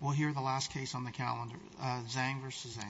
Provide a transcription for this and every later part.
We'll hear the last case on the calendar, Zhang v. Zhang.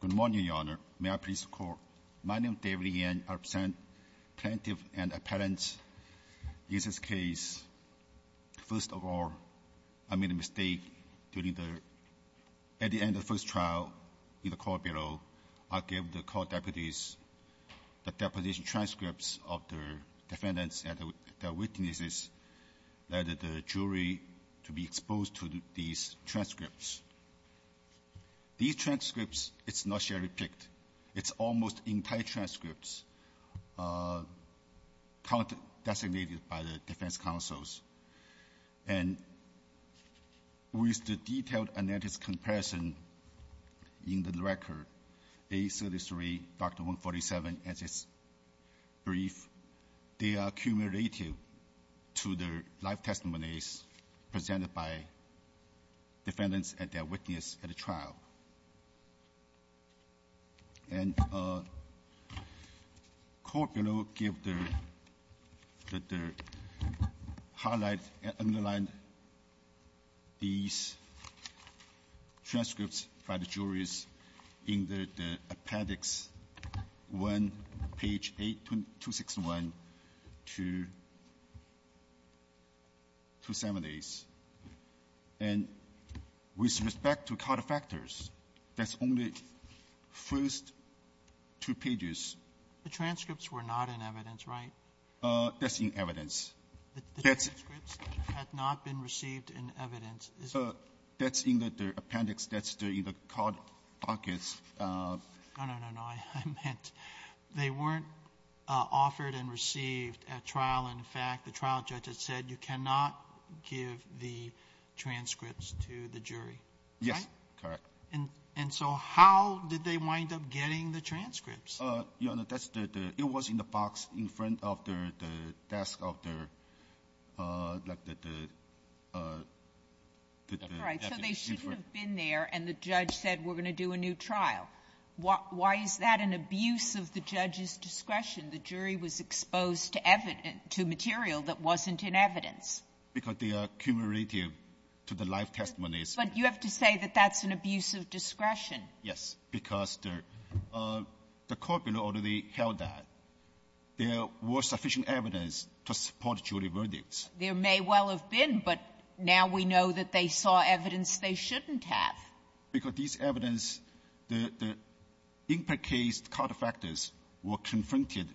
Good morning, Your Honor. May I please call? My name is David Yen. I represent Plaintiff and Appellant. In this case, first of all, I made a mistake during the – at the end of first trial in the court below. I gave the court deputies the deposition transcripts of the defendants and their witnesses that the jury to be exposed to these transcripts. These transcripts, it's not sharply picked. It's almost entire transcripts designated by the defense counsels. And with the detailed analysis comparison in the record, A33, Dr. 147, as it's briefed, they are cumulative to the live testimonies presented by defendants and their witness at the trial. And court below give the highlight and underline these transcripts by the juries in the appendix 1, page 8261 to 270s. And with respect to card factors, that's only first two pages. The transcripts were not in evidence, right? That's in evidence. The transcripts had not been received in evidence. That's in the appendix. That's in the card dockets. Oh, no, no, no. I meant they weren't offered and received at trial. In fact, the trial judge had said you cannot give the transcripts to the jury. Yes. Correct. And so how did they wind up getting the transcripts? You know, that's the – it was in the box in front of the desk of the – like the – That's right. So they shouldn't have been there, and the judge said we're going to do a new trial. Why is that an abuse of the judge's discretion? The jury was exposed to evidence – to material that wasn't in evidence. Because they are cumulative to the live testimonies. But you have to say that that's an abuse of discretion. Yes. Because the court below already held that. There was sufficient evidence to support jury verdicts. There may well have been, but now we know that they saw evidence they shouldn't have. Because this evidence, the – the in-case cul-de-factors were confronted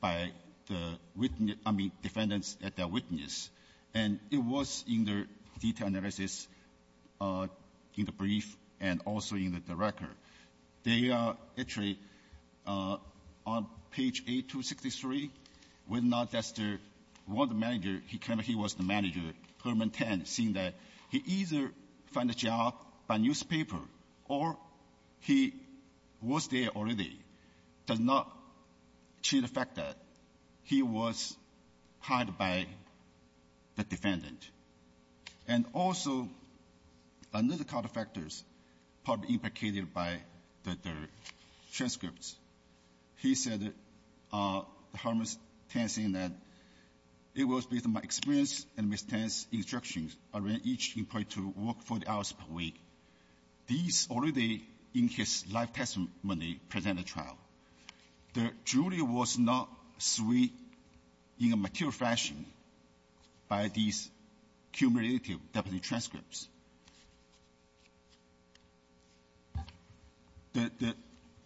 by the witness – I mean defendants at their witness. And it was in the detail analysis, in the brief, and also in the record. They – actually, on page 8263, whether or not that's the – one of the manager, he kind of – he was there already, does not cheat the fact that he was hired by the defendant. And also, another cul-de-factors probably implicated by the transcripts. He said that the harmless tenants in that it was based on my experience and Ms. These already, in his live testimony, present a trial. The jury was not swayed in a mature fashion by these cumulative deputy transcripts. The – the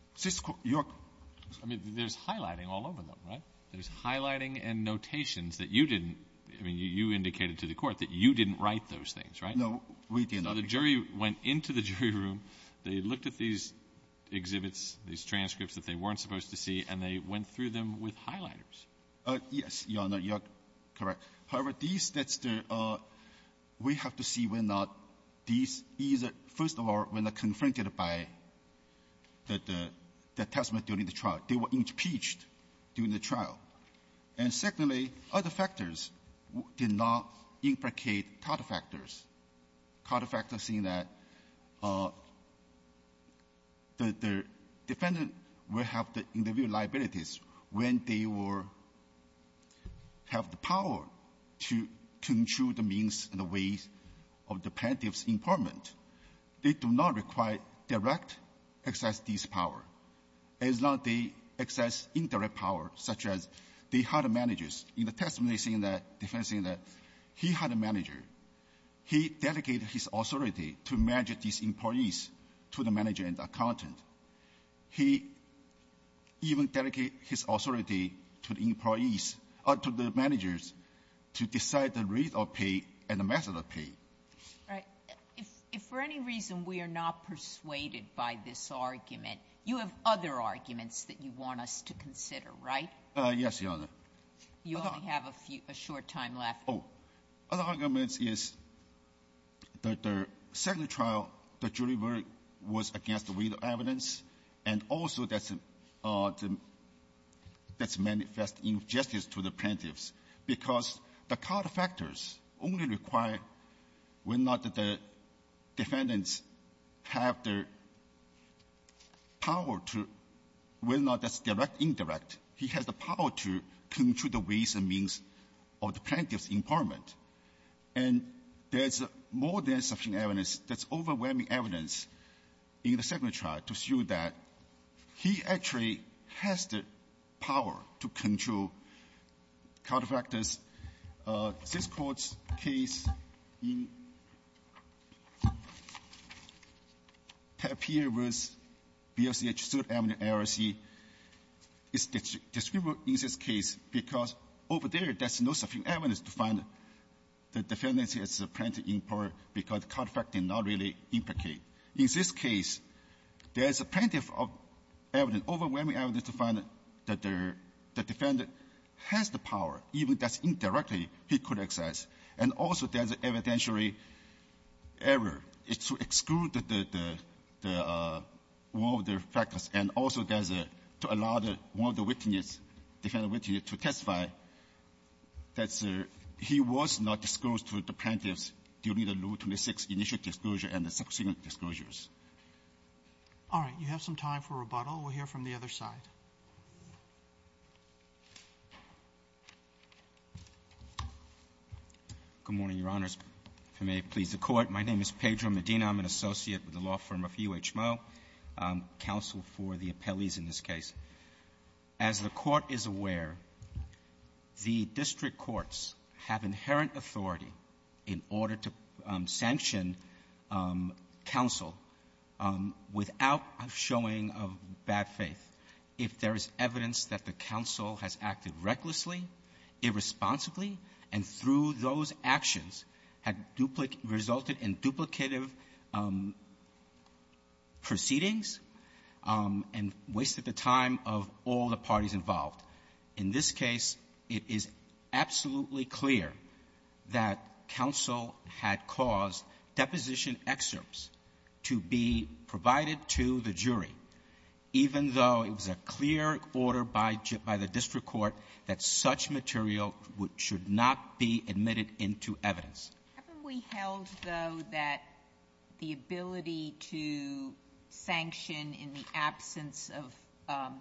– your – I mean, there's highlighting all over them, right? There's highlighting and notations that you didn't – I mean, you indicated to the Court that you didn't write those things, right? No, we did not. The jury went into the jury room. They looked at these exhibits, these transcripts that they weren't supposed to see, and they went through them with highlighters. Yes, Your Honor, you are correct. However, these – that's the – we have to see whether or not these is a – first of all, were not confronted by the – the testimony during the trial. They were impeached during the trial. And secondly, other factors did not implicate cul-de-factors. Cul-de-factors in that the defendant will have the individual liabilities when they were – have the power to control the means and the ways of the plaintiff's employment. They do not require direct access to this power. As long as they access indirect power, such as they had managers. In the testimony, saying that – the defendant saying that he had a manager. He dedicated his authority to manage these employees to the manager and the accountant. He even dedicated his authority to the employees – to the managers to decide the rate of pay and the method of pay. Right. If – if for any reason we are not persuaded by this argument, you have other arguments that you want us to consider, right? Yes, Your Honor. You only have a few – a short time left. Oh, other arguments is that the second trial, the jury was against the weight of evidence. And also, that's – that's manifest injustice to the plaintiffs, because the cul-de-factors only require when not the defendants have the power to – when not that's direct, indirect. He has the power to control the ways and means of the plaintiff's employment. And there's more than sufficient evidence. There's overwhelming evidence in the second trial to show that he actually has the power to control cul-de-factors. This Court's case in Papier v. B.L.C. H. Seward Avenue, L.S.C. is distributed in this case because over there, there's no sufficient evidence to find that the defendant has a plaintiff in power because the cul-de-factors did not really implicate. In this case, there's a plaintiff of evidence, overwhelming evidence to find that the defendant has the power, even if that's indirectly, he could exercise. And also, there's evidentiary error. It's to exclude the – the cul-de-factors. And also, there's a – to allow the – one of the witness, defendant witness to testify that he was not disclosed to the plaintiffs during the Rule 26 initial disclosure and the subsequent disclosures. Roberts. All right. You have some time for rebuttal. We'll hear from the other side. Medina, I'm an associate with the law firm of U.H. Moe, counsel for the appellees in this case. As the Court is aware, the district courts have inherent authority in order to sanction counsel without a showing of bad faith. If there is evidence that the counsel has acted recklessly, irresponsibly, and through those actions had duplicated – resulted in duplicative proceedings and wasted the time of all the parties involved, in this case, it is absolutely clear that counsel had caused deposition excerpts to be provided to the jury, even though it was a clear order by the district court that such material should not be admitted into evidence. Haven't we held, though, that the ability to sanction in the absence of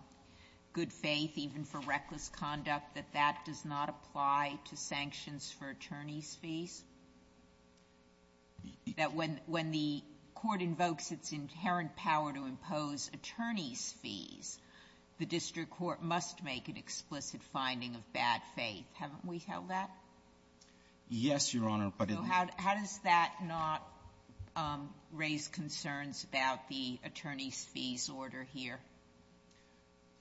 good faith, even for reckless conduct, that that does not apply to sanctions for attorney's fees? That when the court invokes its inherent power to impose attorney's fees, the district court must make an explicit finding of bad faith. Haven't we held that? Yes, Your Honor, but in the ---- So how does that not raise concerns about the attorney's fees order here?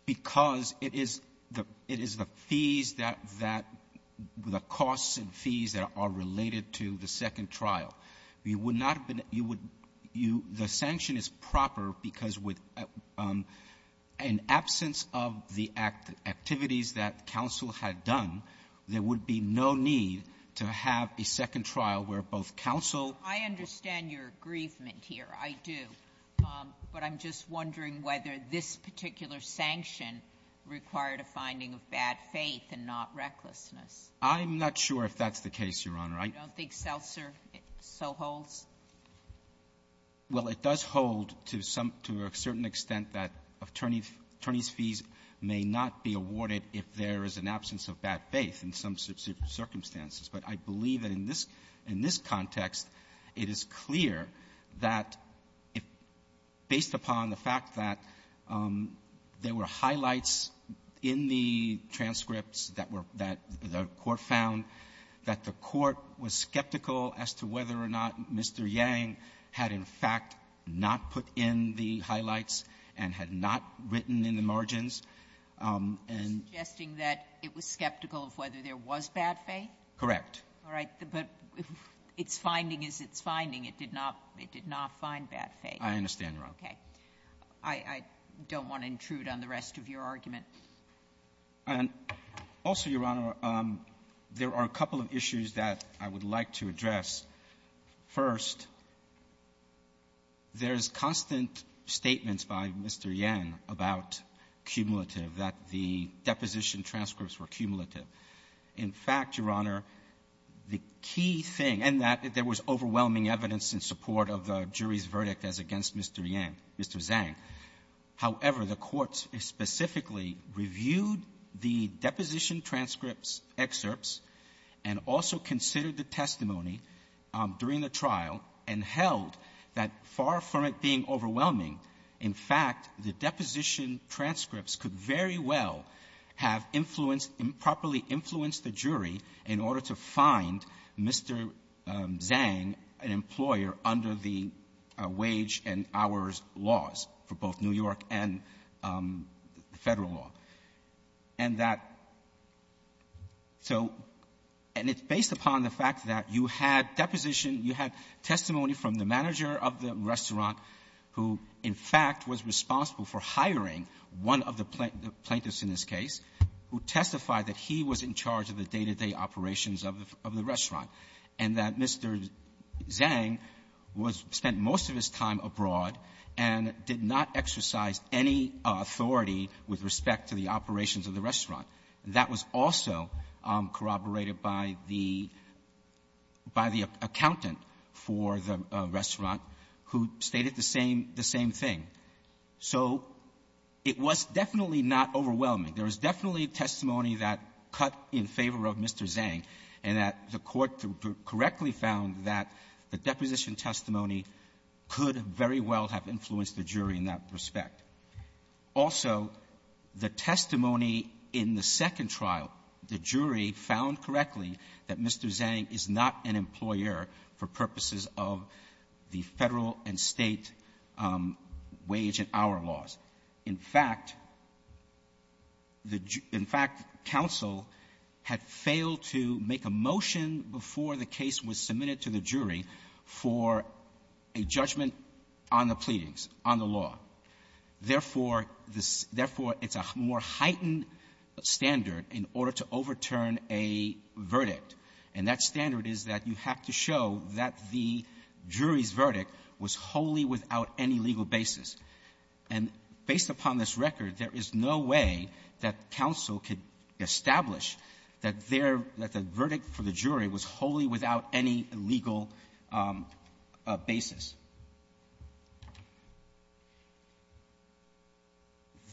Because it is the fees that the costs and fees that are related to the second trial. You would not have been – you would – the sanction is proper because with an absence of the activities that counsel had done, there would be no need to have a second trial where both counsel ---- this particular sanction required a finding of bad faith and not recklessness. I'm not sure if that's the case, Your Honor. I don't think Seltzer so holds. Well, it does hold to some – to a certain extent that attorney's fees may not be awarded if there is an absence of bad faith in some circumstances. But I believe that in this – in this context, it is clear that if, based upon the evidence, there were highlights in the transcripts that were – that the court found that the court was skeptical as to whether or not Mr. Yang had, in fact, not put in the highlights and had not written in the margins, and ---- You're suggesting that it was skeptical of whether there was bad faith? Correct. All right. But its finding is its finding. It did not – it did not find bad faith. I understand, Your Honor. Okay. I – I don't want to intrude on the rest of your argument. And also, Your Honor, there are a couple of issues that I would like to address. First, there's constant statements by Mr. Yang about cumulative, that the deposition transcripts were cumulative. In fact, Your Honor, the key thing – and that there was overwhelming evidence in support of the jury's verdict as against Mr. Yang, Mr. Zang. However, the courts specifically reviewed the deposition transcripts excerpts and also considered the testimony during the trial and held that, far from it being overwhelming, in fact, the deposition transcripts could very well have influenced improperly influenced the jury in order to find Mr. Zang, an employer, under the wage and hours laws for both New York and Federal law. And that – so – and it's based upon the fact that you had deposition, you had testimony from the manager of the restaurant who, in fact, was responsible for hiring one of the plaintiffs in this case, who testified that he was in charge of the day-to-day operations of the restaurant, and that Mr. Zang was – spent most of his time abroad and did not exercise any authority with respect to the operations of the restaurant. That was also corroborated by the – by the accountant for the restaurant who stated the same – the same thing. So it was definitely not overwhelming. There was definitely testimony that cut in favor of Mr. Zang, and that the Court correctly found that the deposition testimony could very well have influenced the jury in that respect. Also, the testimony in the second trial, the jury found correctly that Mr. Zang is not an employer for purposes of the Federal and State wage and hour laws. In fact, the jury – in fact, counsel had failed to make a motion before the case was submitted to the jury for a judgment on the pleadings, on the law. Therefore, the – therefore, it's a more heightened standard in order to overturn a verdict. And that standard is that you have to show that the jury's verdict was wholly without any legal basis. And based upon this record, there is no way that counsel could establish that their – that the verdict for the jury was wholly without any legal basis.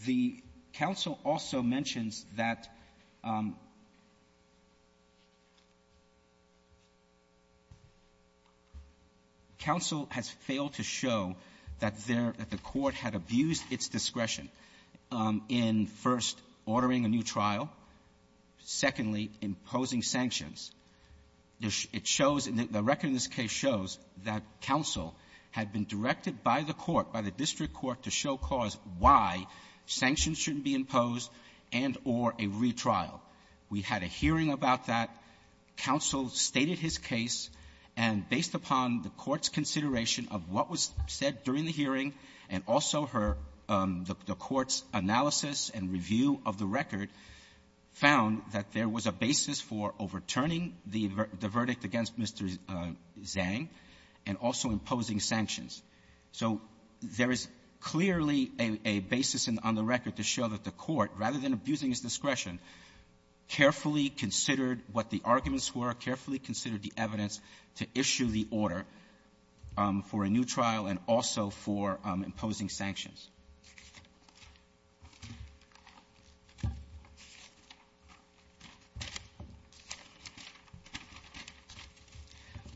The counsel also mentions that counsel has failed to show that there – that the court has failed discretion in, first, ordering a new trial, secondly, imposing sanctions. It shows – the record in this case shows that counsel had been directed by the court, by the district court, to show cause why sanctions shouldn't be imposed and – or a retrial. We had a hearing about that. Counsel stated his case. And based upon the court's consideration of what was said during the hearing and also her – the court's analysis and review of the record, found that there was a basis for overturning the verdict against Mr. Zhang and also imposing sanctions. So there is clearly a basis on the record to show that the court, rather than abusing his discretion, carefully considered what the arguments were, carefully considered the evidence to issue the order for a new trial and also for imposing sanctions.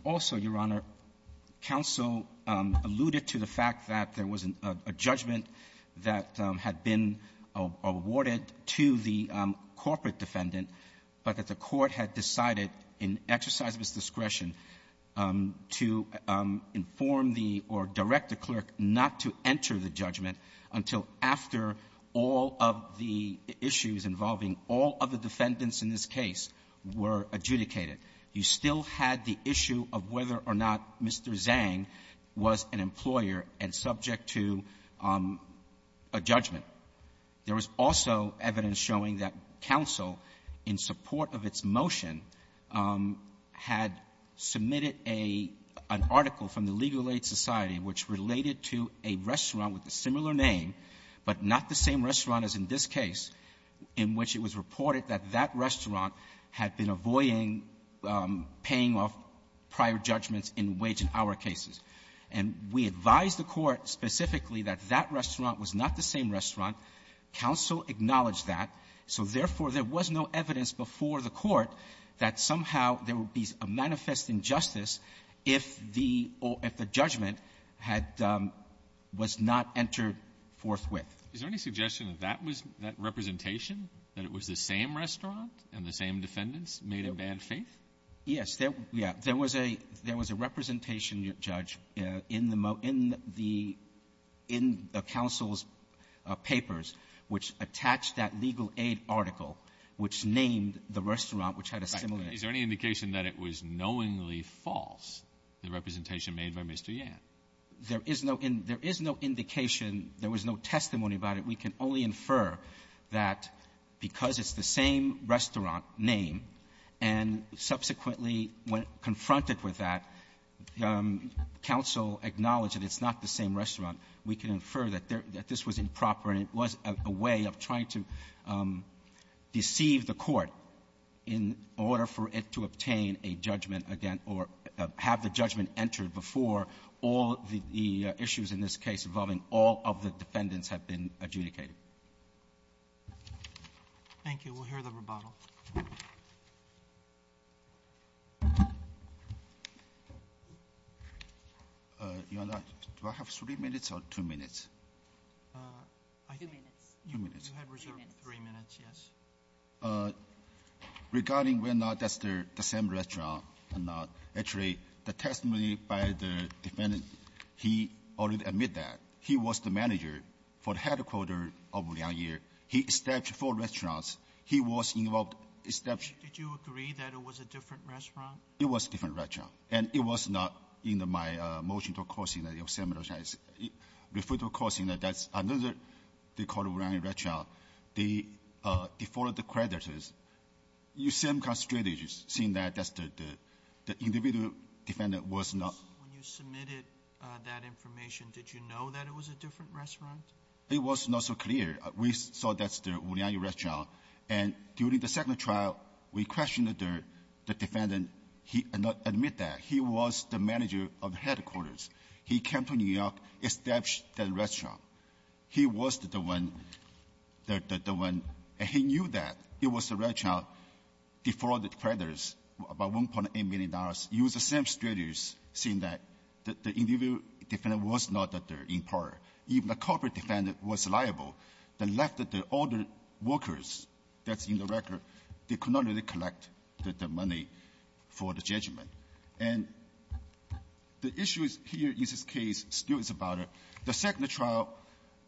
Also, Your Honor, counsel alluded to the fact that there was a judgment that had been awarded to the corporate defendant, but that the court had decided in exercise of its discretion to inform the or direct the clerk not to enter the judgment until after all of the issues involving all of the defendants in this case were adjudicated. You still had the issue of whether or not Mr. Zhang was an employer and subject to a judgment. There was also evidence showing that counsel, in support of its motion, had submitted a – an article from the Legal Aid Society which related to a restaurant with a similar name, but not the same restaurant as in this case, in which it was reported that that restaurant had been avoiding paying off prior judgments in wage and hour cases. And we advised the court specifically that that restaurant was not the same that somehow there would be a manifest injustice if the – or if the judgment had – was not entered forthwith. Is there any suggestion that that was – that representation, that it was the same restaurant and the same defendants made a bad faith? Yes. There – yeah. There was a – there was a representation, Judge, in the – in the – in the counsel's that it was knowingly false, the representation made by Mr. Yan? There is no – there is no indication. There was no testimony about it. We can only infer that because it's the same restaurant name, and subsequently when confronted with that, counsel acknowledged that it's not the same restaurant. We can infer that there – that this was improper and it was a way of trying to deceive the court in order for it to obtain a judgment again or have the judgment entered before all the issues in this case involving all of the defendants had been adjudicated. Thank you. We'll hear the rebuttal. Your Honor, do I have three minutes or two minutes? Two minutes. Two minutes. You had reserved three minutes, yes. Regarding whether or not that's the same restaurant or not, actually, the testimony by the defendant, he already admitted that. He was the manager for the headquarter of Wuliangyir. He established four restaurants. He was involved – established – Did you agree that it was a different restaurant? It was a different restaurant. And it was not in my motion to recourse in that the same restaurant is – refer to recourse in that that's another – they call Wuliangyir restaurant. They – they followed the creditors. You see them constrated, seeing that that's the – the individual defendant was not – When you submitted that information, did you know that it was a different restaurant? It was not so clear. We saw that's the Wuliangyir restaurant. And during the second trial, we questioned the defendant. He did not admit that. He was the manager of headquarters. He came to New York, established that restaurant. He was the one – the one – and he knew that it was the restaurant, defrauded creditors about $1.8 million. It was the same strategies, seeing that the individual defendant was not that they're in power. Even the corporate defendant was liable. The left, the older workers, that's in the record, they could not really collect the money for the judgment. And the issue here is this case still is about the second trial.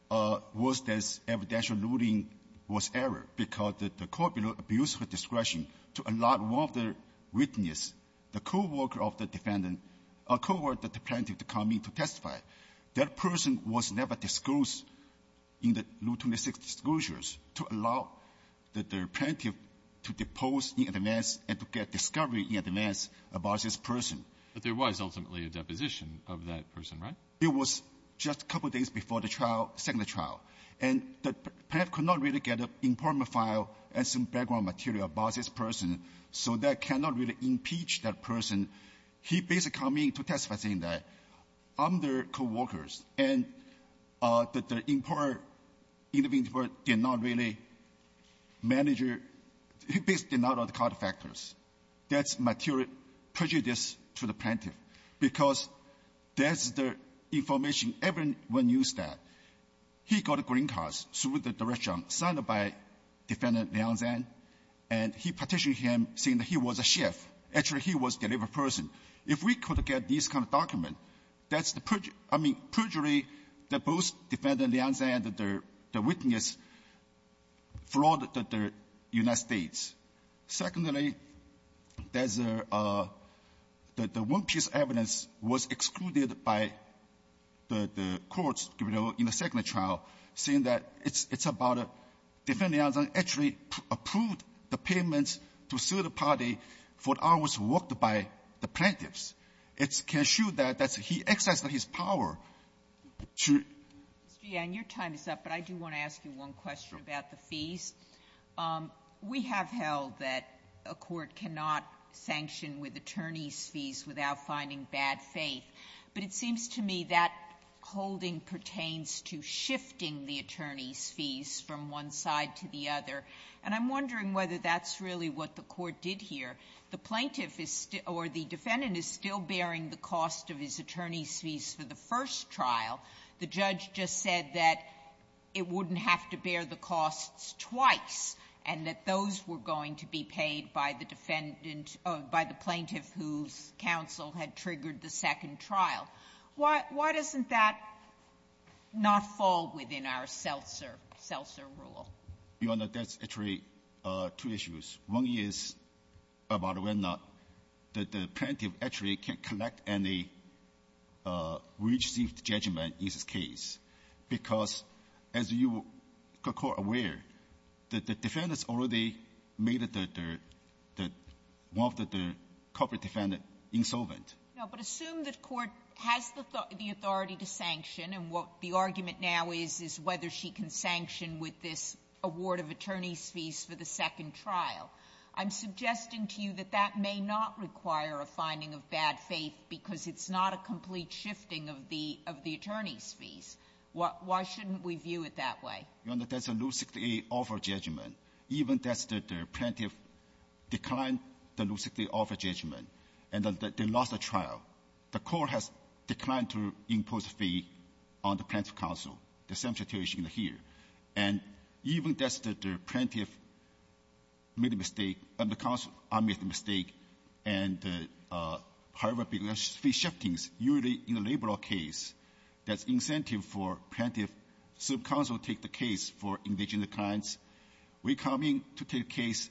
What was this evidential ruling was error, because the corporate abused her discretion to allow one of the witness, the co-worker of the defendant, a co-worker that the plaintiff to come in to testify. That person was never disclosed in the Rule 26 disclosures to allow that the plaintiff to depose in advance and to get discovery in advance about this person. But there was ultimately a deposition of that person, right? It was just a couple of days before the trial – second trial. And the plaintiff could not really get an important file and some background material about this person, so that cannot really impeach that person. He basically come in to testify saying that, I'm their co-workers, and that the important individual did not really manager – he basically did not know the information. Everyone knew that. He got a green card through the director, signed by Defendant Lianzhen, and he petitioned him saying that he was a chef. Actually, he was a delivered person. If we could get this kind of document, that's the – I mean, perjury that both Defendant Lianzhen and the witness flawed the United States. Secondly, there's a – the one-piece evidence was excluded by the courts in the second trial, saying that it's about a – Defendant Lianzhen actually approved the payments to third party for hours worked by the plaintiffs. It can show that that's – he exercised his power to – Sotomayor, your time is up, but I do want to ask you one question about the fees. We have held that a court cannot sanction with attorney's fees without finding bad faith, but it seems to me that holding pertains to shifting the attorney's fees from one side to the other. And I'm wondering whether that's really what the court did here. The plaintiff is – or the defendant is still bearing the cost of his attorney's fees for the first trial. The judge just said that it wouldn't have to bear the costs twice and that those were going to be paid by the defendant – by the plaintiff whose counsel had triggered the second trial. Why – why doesn't that not fall within our Seltzer – Seltzer rule? Your Honor, that's actually two issues. One is about whether or not the plaintiff actually can collect any receipt judgment in this case, because, as you are aware, the defendants already made the – the – one of the corporate defendant insolvent. Now, but assume the court has the authority to sanction, and what the argument now is, is whether she can sanction with this award of attorney's fees for the second trial. I'm suggesting to you that that may not require a finding of bad faith because it's not a complete shifting of the – of the attorney's fees. Why – why shouldn't we view it that way? Your Honor, that's a Rule 68 offer judgment. Even if the plaintiff declined the Rule 68 offer judgment and they lost the trial, the court has declined to impose a fee on the plaintiff's counsel. The same situation here. And even if the plaintiff made a mistake, and the counsel made a mistake, and however big the fee shifting is, usually in a labor law case, that's incentive for plaintiff – so counsel take the case for indigenous clients. We coming to take the case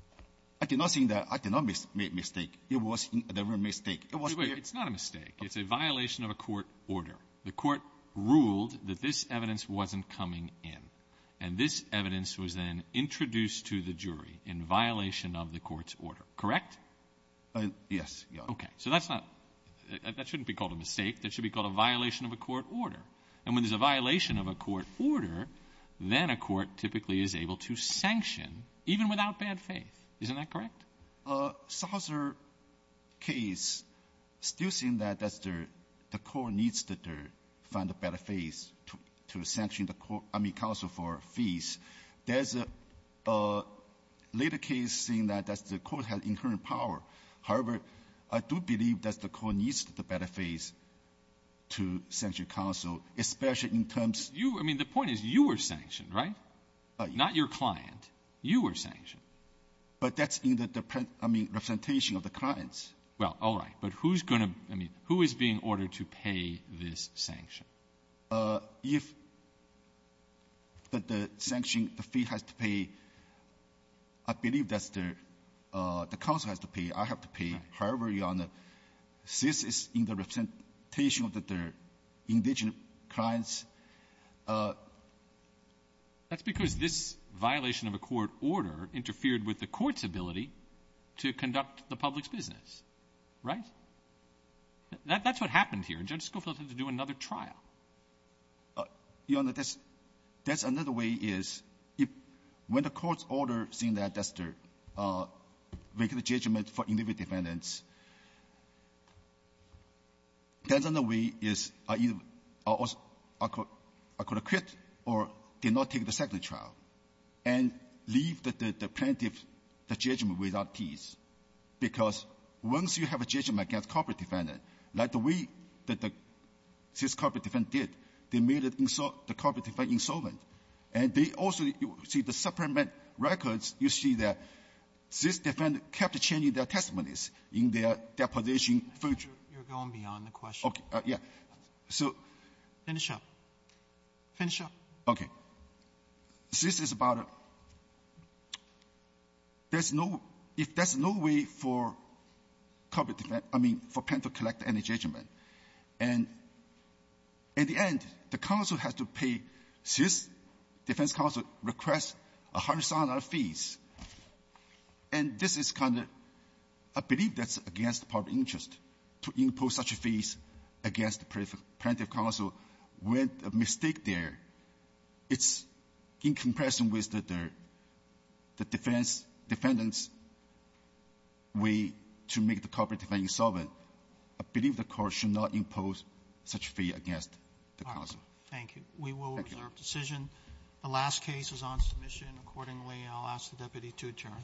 – I did not say that – I did not make mistake. It was the real mistake. It was the – Wait. It's not a mistake. It's a violation of a court order. The court ruled that this evidence wasn't coming in, and this evidence was then introduced to the jury in violation of the court's order, correct? Yes, Your Honor. Okay. So that's not – that shouldn't be called a mistake. That should be called a violation of a court order. And when there's a violation of a court order, then a court typically is able to sanction, even without bad faith. Isn't that correct? Some other case still saying that the court needs to find a better faith to sanction the counsel for fees. There's a later case saying that the court has inherent power. However, I do believe that the court needs the better faith to sanction counsel, especially in terms of – You – I mean, the point is you were sanctioned, right? Not your client. You were sanctioned. But that's in the – I mean, representation of the clients. Well, all right. But who's going to – I mean, who is being ordered to pay this sanction? If the sanction – the fee has to pay, I believe that's the – the counsel has to pay. I have to pay. However, Your Honor, this is in the representation of the – the indigent clients. That's because this violation of a court order interfered with the court's ability to conduct the public's business, right? That's what happened here. And judges go for it to do another trial. Your Honor, that's – that's another way is if – when the court's order saying that that's the – making the judgment for individual defendants, that's another way is either – or also a court – a court acquit or did not take the second trial and leave the plaintiff – the judgment without peace. Because once you have a judgment against corporate defendant, like the way that the – since corporate defendant did, they made it – the corporate defendant is an insolvent. And they also – see, the supplement records, you see that this defendant kept changing their testimonies in their deposition. Roberts. You're going beyond the question. Okay. Yeah. So – Finish up. Finish up. Okay. This is about a – there's no – if there's no way for corporate – I mean, for plaintiff to collect any judgment. And in the end, the counsel has to pay – defense counsel request a hundred-thousand other fees. And this is kind of – I believe that's against the public interest to impose such a fee against the plaintiff counsel with a mistake there. It's in comparison with the – the defense – defendant's way to make the corporate defendant insolvent. I believe the Court should not impose such a fee against the counsel. Thank you. We will reserve decision. The last case is on submission. Accordingly, I'll ask the deputy to adjourn. The Court is adjourned.